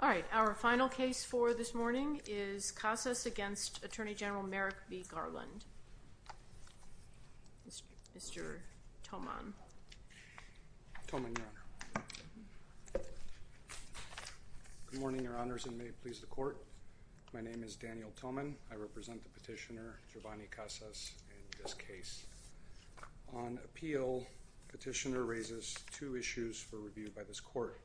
All right, our final case for this morning is Casas v. Attorney General Merrick B. Garland. Mr. Thoman. Thoman, Your Honor. Good morning, Your Honors, and may it please the Court. My name is Daniel Thoman. I represent the petitioner, Jovani Casas, in this case. On appeal, the petitioner raises two issues for review by this Court.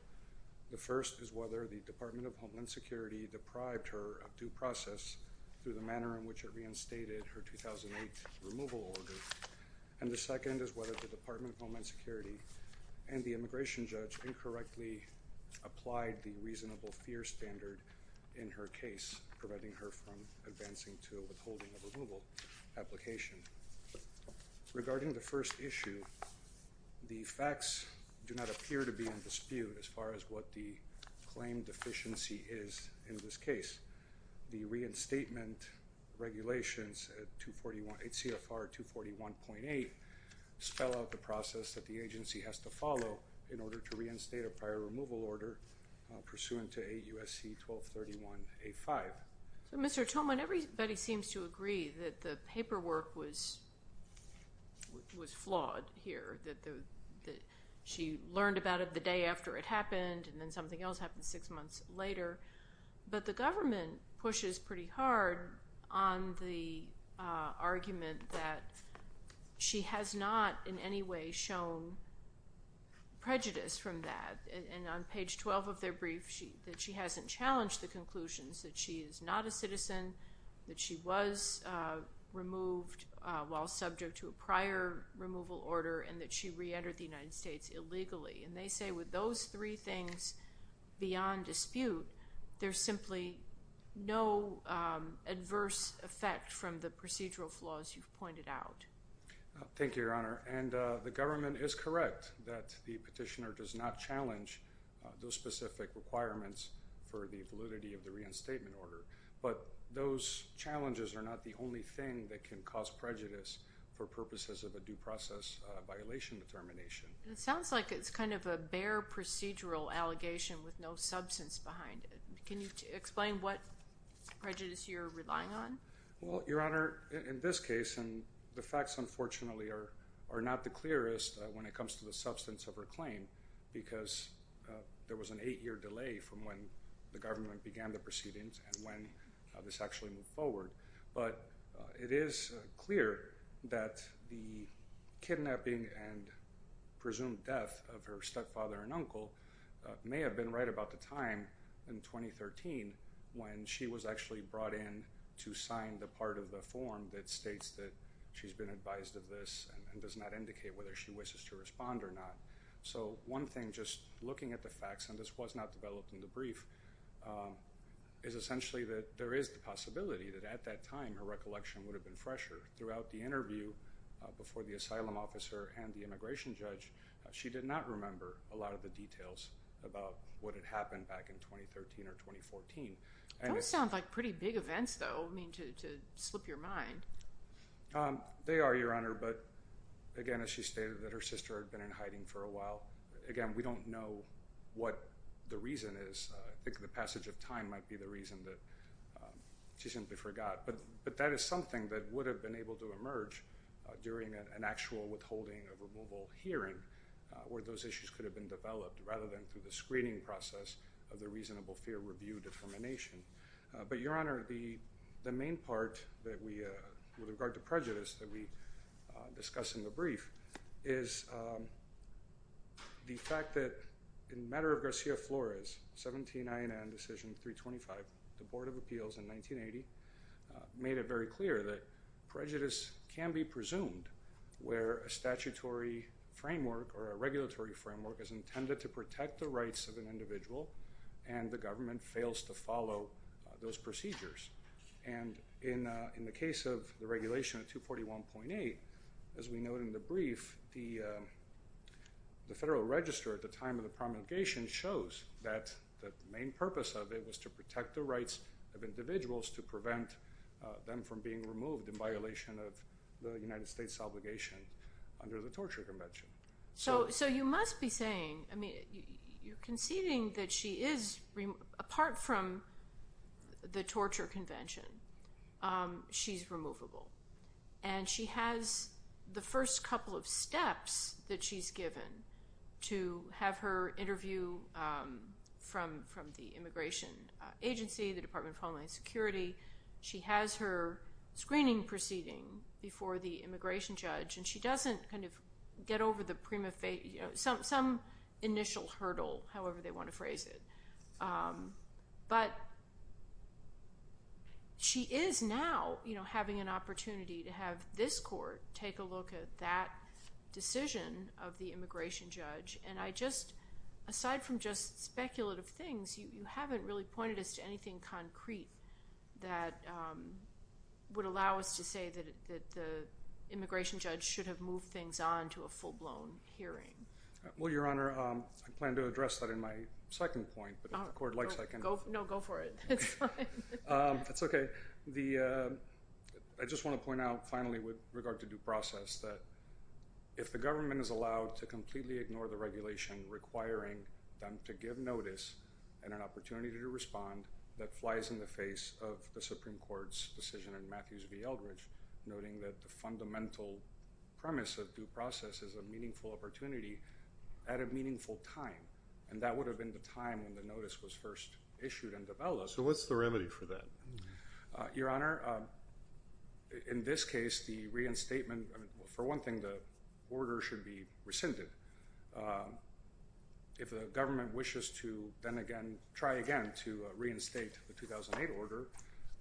The first is whether the Department of Homeland Security deprived her of due process through the manner in which it reinstated her 2008 removal order. And the second is whether the Department of Homeland Security and the immigration judge incorrectly applied the reasonable fear standard in her case, preventing her from advancing to a withholding of removal application. Regarding the first issue, the facts do not appear to be in dispute as far as what the claim deficiency is in this case. The reinstatement regulations at CFR 241.8 spell out the process that the agency has to follow in order to reinstate a prior removal order pursuant to 8 U.S.C. 1231.85. So, Mr. Thoman, everybody seems to agree that the paperwork was flawed here, that she learned about it the day after it happened, and then something else happened six months later. But the government pushes pretty hard on the argument that she has not in any way shown prejudice from that. And on page 12 of their brief, that she hasn't challenged the conclusions that she is not a citizen, that she was removed while subject to a prior removal order, and that she reentered the United States illegally. And they say with those three things beyond dispute, there's simply no adverse effect from the procedural flaws you've pointed out. Thank you, Your Honor. And the government is correct that the petitioner does not challenge those specific requirements for the validity of the reinstatement order. But those challenges are not the only thing that can cause prejudice for purposes of a due process violation determination. It sounds like it's kind of a bare procedural allegation with no substance behind it. Can you explain what prejudice you're relying on? Well, Your Honor, in this case, and the facts unfortunately are not the clearest when it comes to the substance of her claim, because there was an eight-year delay from when the government began the proceedings and when this actually moved forward. But it is clear that the kidnapping and presumed death of her stepfather and uncle may have been right about the time in 2013 when she was actually brought in to sign the part of the form that states that she's been advised of this and does not indicate whether she wishes to respond or not. So one thing, just looking at the facts, and this was not developed in the brief, is essentially that there is the possibility that at that time her recollection would have been fresher. Throughout the interview before the asylum officer and the immigration judge, she did not remember a lot of the details about what had happened back in 2013 or 2014. Those sound like pretty big events, though, to slip your mind. They are, Your Honor, but again, as she stated, that her sister had been in hiding for a while. Again, we don't know what the reason is. I think the passage of time might be the reason that she simply forgot. But that is something that would have been able to emerge during an actual withholding of removal hearing where those issues could have been developed rather than through the screening process of the reasonable fear review determination. But, Your Honor, the main part with regard to prejudice that we discuss in the brief is the fact that in matter of Garcia Flores, 17 INN Decision 325, the Board of Appeals in 1980 made it very clear that prejudice can be presumed where a statutory framework or a regulatory framework is intended to protect the rights of an individual and the government fails to follow those procedures. And in the case of the regulation of 241.8, as we note in the brief, the Federal Register at the time of the promulgation shows that the main purpose of it was to protect the rights of individuals to prevent them from being removed in violation of the United States obligation under the Torture Convention. So you must be saying, I mean, you're conceding that she is, apart from the Torture Convention, she's removable. And she has the first couple of steps that she's given to have her interview from the Immigration Agency, the Department of Homeland Security. She has her screening proceeding before the immigration judge, and she doesn't kind of get over the prima facie, some initial hurdle, however they want to phrase it. But she is now having an opportunity to have this court take a look at that decision of the immigration judge. And I just, aside from just speculative things, you haven't really pointed us to anything concrete that would allow us to say that the immigration judge should have moved things on to a full-blown hearing. Well, Your Honor, I plan to address that in my second point, but if the court likes, I can... No, go for it. That's fine. That's okay. I just want to point out, finally, with regard to due process, that if the government is allowed to completely ignore the regulation requiring them to give notice and an opportunity to respond, that flies in the face of the Supreme Court's decision in Matthews v. Eldridge, noting that the fundamental premise of due process is a meaningful opportunity at a meaningful time. And that would have been the time when the notice was first issued and developed. So what's the remedy for that? Your Honor, in this case, the reinstatement, for one thing, the order should be rescinded. If the government wishes to then again try again to reinstate the 2008 order,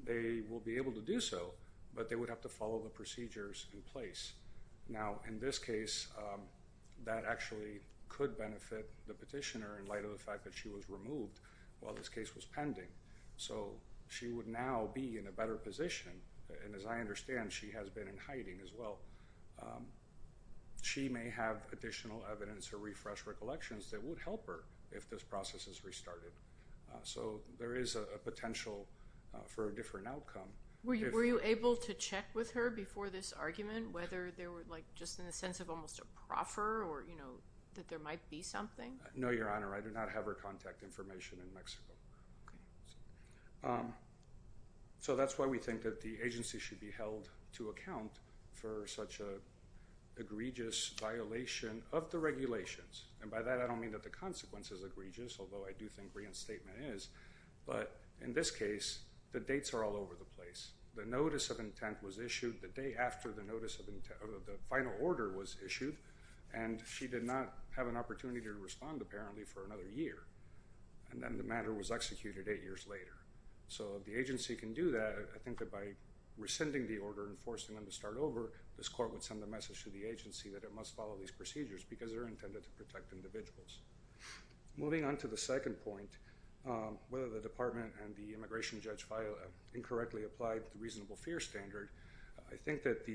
they will be able to do so, but they would have to follow the procedures in place. Now, in this case, that actually could benefit the petitioner in light of the fact that she was removed while this case was pending. So she would now be in a better position, and as I understand, she has been in hiding as well. She may have additional evidence or refresh recollections that would help her if this process is restarted. So there is a potential for a different outcome. Were you able to check with her before this argument whether there were like just in the sense of almost a proffer or, you know, that there might be something? No, Your Honor, I do not have her contact information in Mexico. So that's why we think that the agency should be held to account for such an egregious violation of the regulations. And by that, I don't mean that the consequence is egregious, although I do think reinstatement is. But in this case, the dates are all over the place. The notice of intent was issued the day after the final order was issued, and she did not have an opportunity to respond apparently for another year, and then the matter was executed eight years later. So the agency can do that. I think that by rescinding the order and forcing them to start over, this court would send a message to the agency that it must follow these procedures because they're intended to protect individuals. Moving on to the second point, whether the department and the immigration judge incorrectly applied the reasonable fear standard, I think that,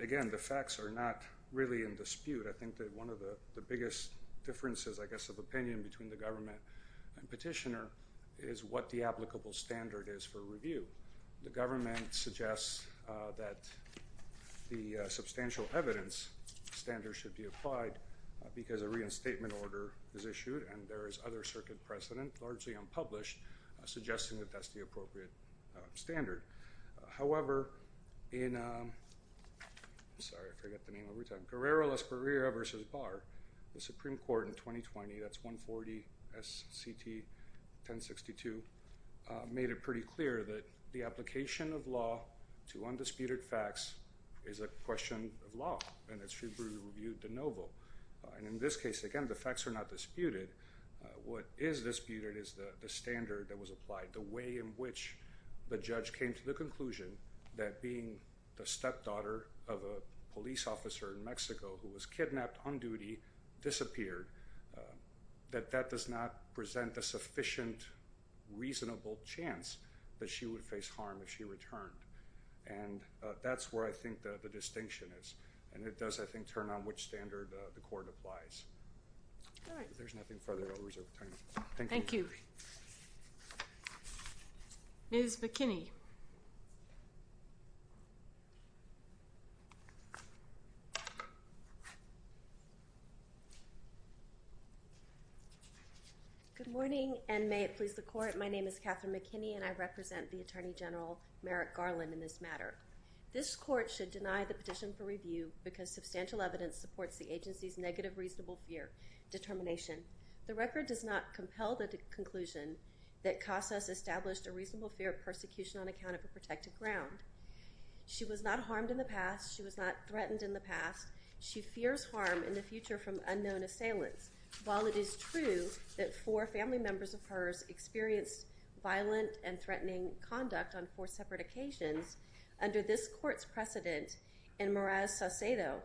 again, the facts are not really in dispute. I think that one of the biggest differences, I guess, of opinion between the government and petitioner is what the applicable standard is for review. So the government suggests that the substantial evidence standard should be applied because a reinstatement order is issued, and there is other circuit precedent, largely unpublished, suggesting that that's the appropriate standard. However, in – sorry, I forget the name every time – Guerrero-Las Barreras v. Barr, the Supreme Court in 2020, that's 140 S.C.T. 1062, made it pretty clear that the application of law to undisputed facts is a question of law, and it should be reviewed de novo. And in this case, again, the facts are not disputed. What is disputed is the standard that was applied, the way in which the judge came to the conclusion that being the stepdaughter of a police officer in Mexico who was kidnapped on duty disappeared, that that does not present a sufficient reasonable chance that she would face harm if she returned. And that's where I think the distinction is, and it does, I think, turn on which standard the court applies. All right. If there's nothing further, I'll reserve time. Thank you. Thank you. Ms. McKinney. Good morning, and may it please the Court, my name is Catherine McKinney, and I represent the Attorney General Merrick Garland in this matter. This Court should deny the petition for review because substantial evidence supports the agency's negative reasonable fear determination. The record does not compel the conclusion that Casas established a reasonable fear of persecution on account of a protected ground. She was not harmed in the past. She was not threatened in the past. She fears harm in the future from unknown assailants. While it is true that four family members of hers experienced violent and threatening conduct on four separate occasions, under this Court's precedent in Meraz-Saucedo,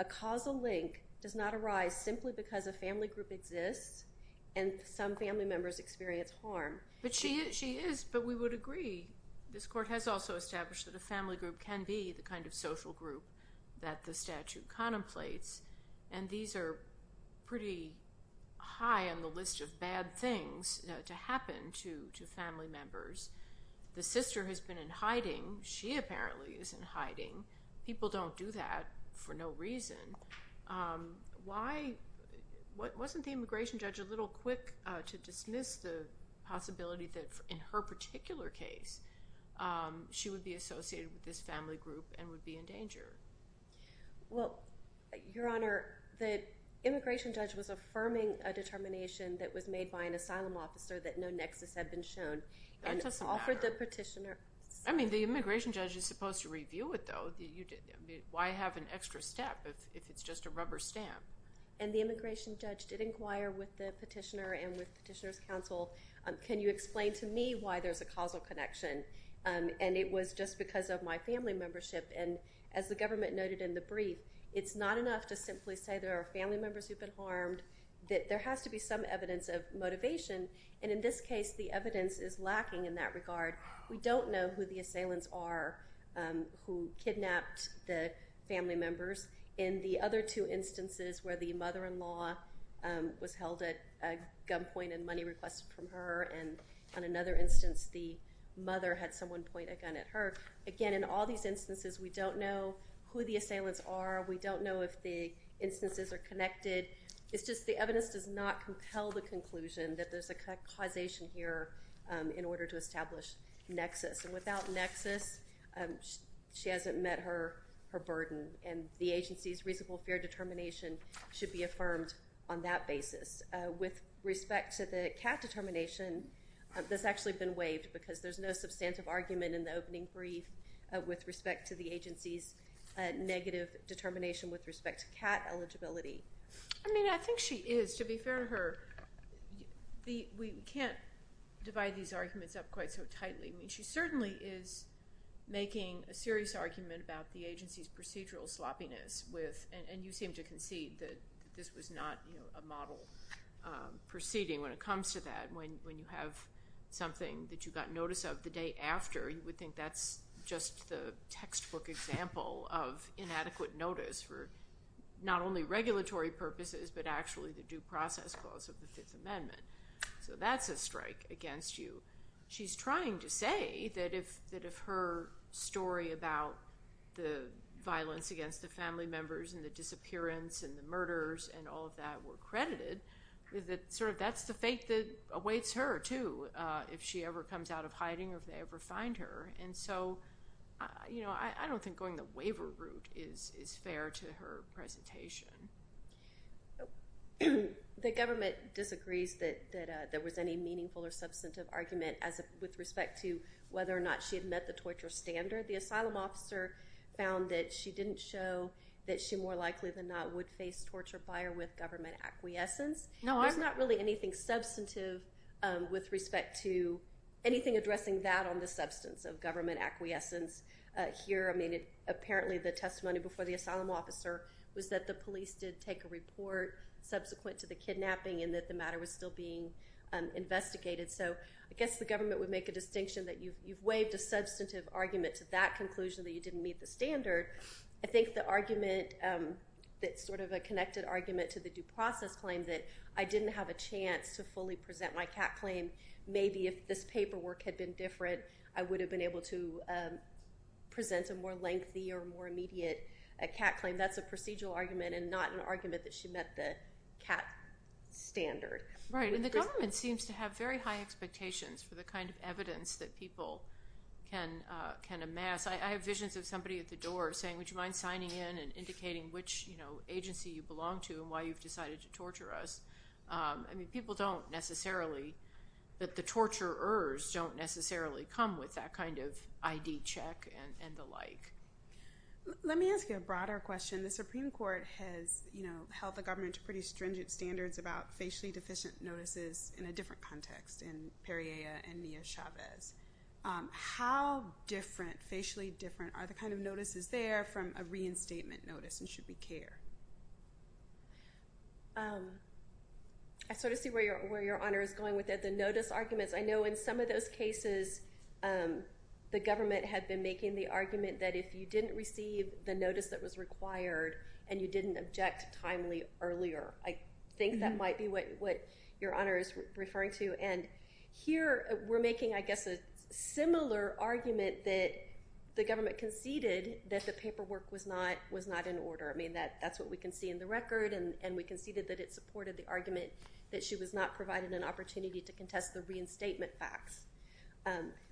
a causal link does not arise simply because a family group exists and some family members experience harm. But she is, but we would agree this Court has also established that a family group can be the kind of social group that the statute contemplates, and these are pretty high on the list of bad things to happen to family members. The sister has been in hiding. She apparently is in hiding. People don't do that for no reason. Why, wasn't the immigration judge a little quick to dismiss the possibility that in her particular case she would be associated with this family group and would be in danger? Well, Your Honor, the immigration judge was affirming a determination that was made by an asylum officer that no nexus had been shown. That doesn't matter. And offered the petitioner. I mean, the immigration judge is supposed to review it, though. Why have an extra step if it's just a rubber stamp? And the immigration judge did inquire with the petitioner and with petitioner's counsel, can you explain to me why there's a causal connection? And it was just because of my family membership, and as the government noted in the brief, it's not enough to simply say there are family members who've been harmed, that there has to be some evidence of motivation, and in this case the evidence is lacking in that regard. We don't know who the assailants are who kidnapped the family members. In the other two instances where the mother-in-law was held at a gunpoint and money requested from her, and on another instance the mother had someone point a gun at her, again, in all these instances we don't know who the assailants are. We don't know if the instances are connected. It's just the evidence does not compel the conclusion that there's a causation here in order to establish nexus, and without nexus she hasn't met her burden, and the agency's reasonable fair determination should be affirmed on that basis. With respect to the cat determination, this has actually been waived because there's no substantive argument in the opening brief with respect to the agency's negative determination with respect to cat eligibility. I mean, I think she is. To be fair to her, we can't divide these arguments up quite so tightly. I mean, she certainly is making a serious argument about the agency's procedural sloppiness with, and you seem to concede that this was not a model proceeding when it comes to that. When you have something that you got notice of the day after, you would think that's just the textbook example of inadequate notice for not only regulatory purposes, but actually the due process clause of the Fifth Amendment, so that's a strike against you. She's trying to say that if her story about the violence against the family members and the disappearance and the murders and all of that were credited, that sort of that's the fate that awaits her, too, if she ever comes out of hiding or if they ever find her. And so I don't think going the waiver route is fair to her presentation. The government disagrees that there was any meaningful or substantive argument with respect to whether or not she had met the torture standard. The asylum officer found that she didn't show that she more likely than not would face torture by or with government acquiescence. There's not really anything substantive with respect to anything addressing that on the substance of government acquiescence here. I mean, apparently the testimony before the asylum officer was that the police did take a report subsequent to the kidnapping and that the matter was still being investigated. So I guess the government would make a distinction that you've waived a substantive argument to that conclusion that you didn't meet the standard. I think the argument that's sort of a connected argument to the due process claim that I didn't have a chance to fully present my CAT claim, maybe if this paperwork had been different, I would have been able to present a more lengthy or more immediate CAT claim. That's a procedural argument and not an argument that she met the CAT standard. Right, and the government seems to have very high expectations for the kind of evidence that people can amass. I have visions of somebody at the door saying, would you mind signing in and indicating which agency you belong to and why you've decided to torture us? I mean, people don't necessarily – the torturers don't necessarily come with that kind of ID check and the like. Let me ask you a broader question. The Supreme Court has held the government to pretty stringent standards about facially deficient notices in a different context, in Perriella and Nia Chavez. How different, facially different, are the kind of notices there from a reinstatement notice and should we care? I sort of see where Your Honor is going with the notice arguments. I know in some of those cases the government had been making the argument that if you didn't receive the notice that was required and you didn't object timely earlier, I think that might be what Your Honor is referring to. And here we're making, I guess, a similar argument that the government conceded that the paperwork was not in order. I mean, that's what we can see in the record, and we conceded that it supported the argument that she was not provided an opportunity to contest the reinstatement facts.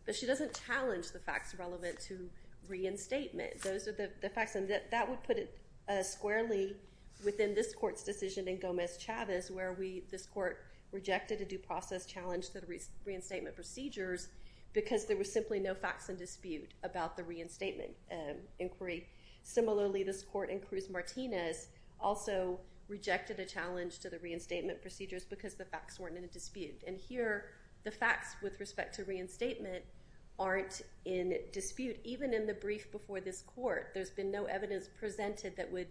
But she doesn't challenge the facts relevant to reinstatement. Those are the facts, and that would put it squarely within this Court's decision in Gomez-Chavez where this Court rejected a due process challenge to the reinstatement procedures because there were simply no facts in dispute about the reinstatement inquiry. Similarly, this Court in Cruz-Martinez also rejected a challenge to the reinstatement procedures because the facts weren't in dispute. And here the facts with respect to reinstatement aren't in dispute. Even in the brief before this Court, there's been no evidence presented that would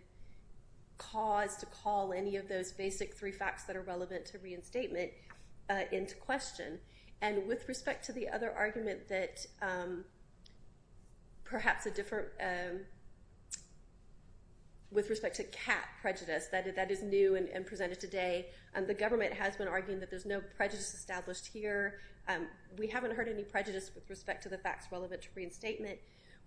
cause to call any of those basic three facts that are relevant to reinstatement into question. And with respect to the other argument that perhaps a different, with respect to cat prejudice, that is new and presented today, the government has been arguing that there's no prejudice established here. We haven't heard any prejudice with respect to the facts relevant to reinstatement.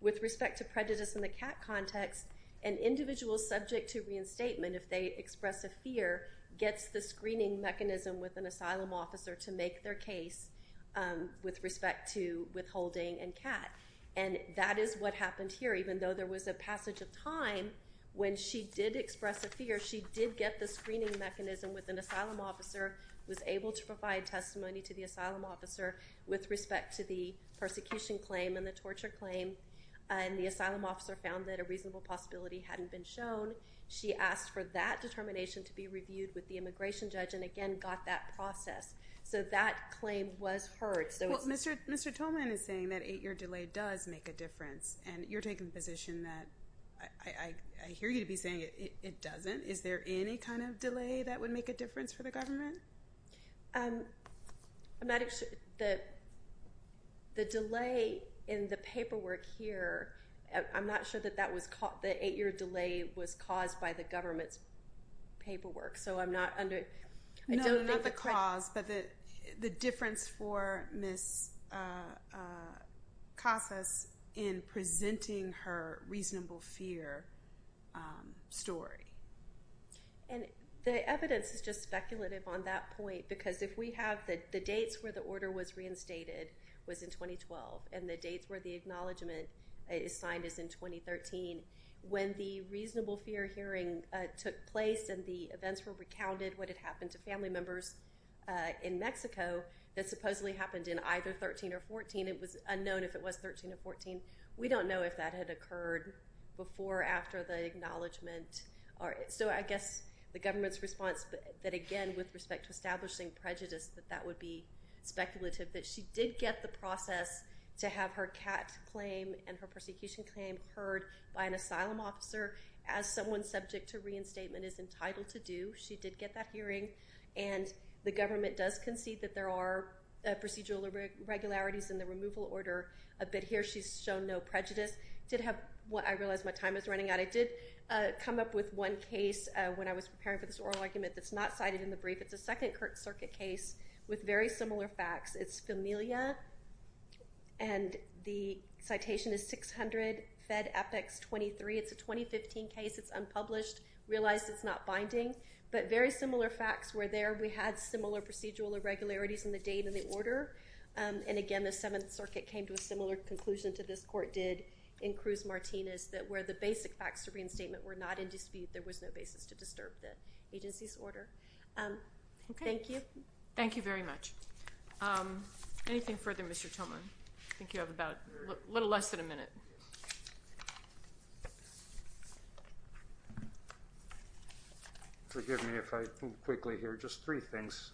With respect to prejudice in the cat context, an individual subject to reinstatement, if they express a fear, gets the screening mechanism with an asylum officer to make their case with respect to withholding and cat. And that is what happened here. Even though there was a passage of time when she did express a fear, she did get the screening mechanism with an asylum officer, was able to provide testimony to the asylum officer with respect to the persecution claim and the torture claim, and the asylum officer found that a reasonable possibility hadn't been shown. She asked for that determination to be reviewed with the immigration judge and, again, got that process. So that claim was heard. Well, Mr. Tolman is saying that eight-year delay does make a difference, and you're taking the position that I hear you to be saying it doesn't. Is there any kind of delay that would make a difference for the government? I'm not sure. The delay in the paperwork here, I'm not sure that that was caught. The eight-year delay was caused by the government's paperwork, so I'm not under. No, not the cause, but the difference for Ms. Casas in presenting her reasonable fear story. And the evidence is just speculative on that point, because if we have the dates where the order was reinstated was in 2012 and the dates where the acknowledgment is signed is in 2013, when the reasonable fear hearing took place and the events were recounted, what had happened to family members in Mexico, that supposedly happened in either 2013 or 2014. It was unknown if it was 2013 or 2014. We don't know if that had occurred before or after the acknowledgment. So I guess the government's response that, again, with respect to establishing prejudice, that that would be speculative, that she did get the process to have her CAT claim and her prosecution claim heard by an asylum officer as someone subject to reinstatement is entitled to do. She did get that hearing, and the government does concede that there are procedural regularities in the removal order, but here she's shown no prejudice. I did have what I realized my time was running out. I did come up with one case when I was preparing for this oral argument that's not cited in the brief. It's a Second Circuit case with very similar facts. It's Familia, and the citation is 600 Fed Epics 23. It's a 2015 case. It's unpublished. Realized it's not binding, but very similar facts were there. We had similar procedural irregularities in the date of the order, and again the Seventh Circuit came to a similar conclusion to this court did in Cruz-Martinez that where the basic facts of reinstatement were not in dispute, there was no basis to disturb the agency's order. Thank you. Thank you very much. Anything further, Mr. Tillman? I think you have about a little less than a minute. Forgive me if I move quickly here. Just three things.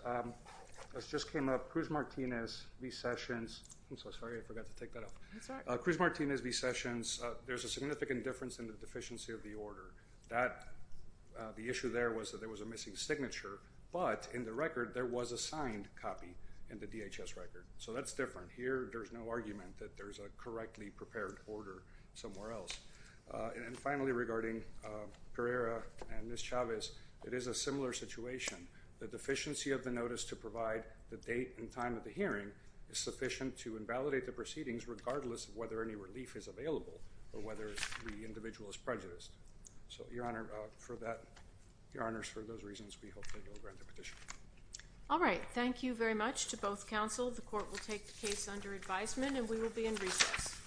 This just came up. Cruz-Martinez v. Sessions. I'm so sorry. I forgot to take that off. Cruz-Martinez v. Sessions, there's a significant difference in the deficiency of the order. The issue there was that there was a missing signature, but in the record there was a signed copy in the DHS record. So that's different. Here there's no argument that there's a correctly prepared order somewhere else. And finally, regarding Pereira and Ms. Chavez, it is a similar situation. The deficiency of the notice to provide the date and time of the hearing is sufficient to invalidate the proceedings, regardless of whether any relief is available or whether the individual is prejudiced. So, Your Honor, for that, Your Honors, for those reasons, we hope that you'll grant the petition. All right. Thank you very much to both counsel. The court will take the case under advisement, and we will be in recess.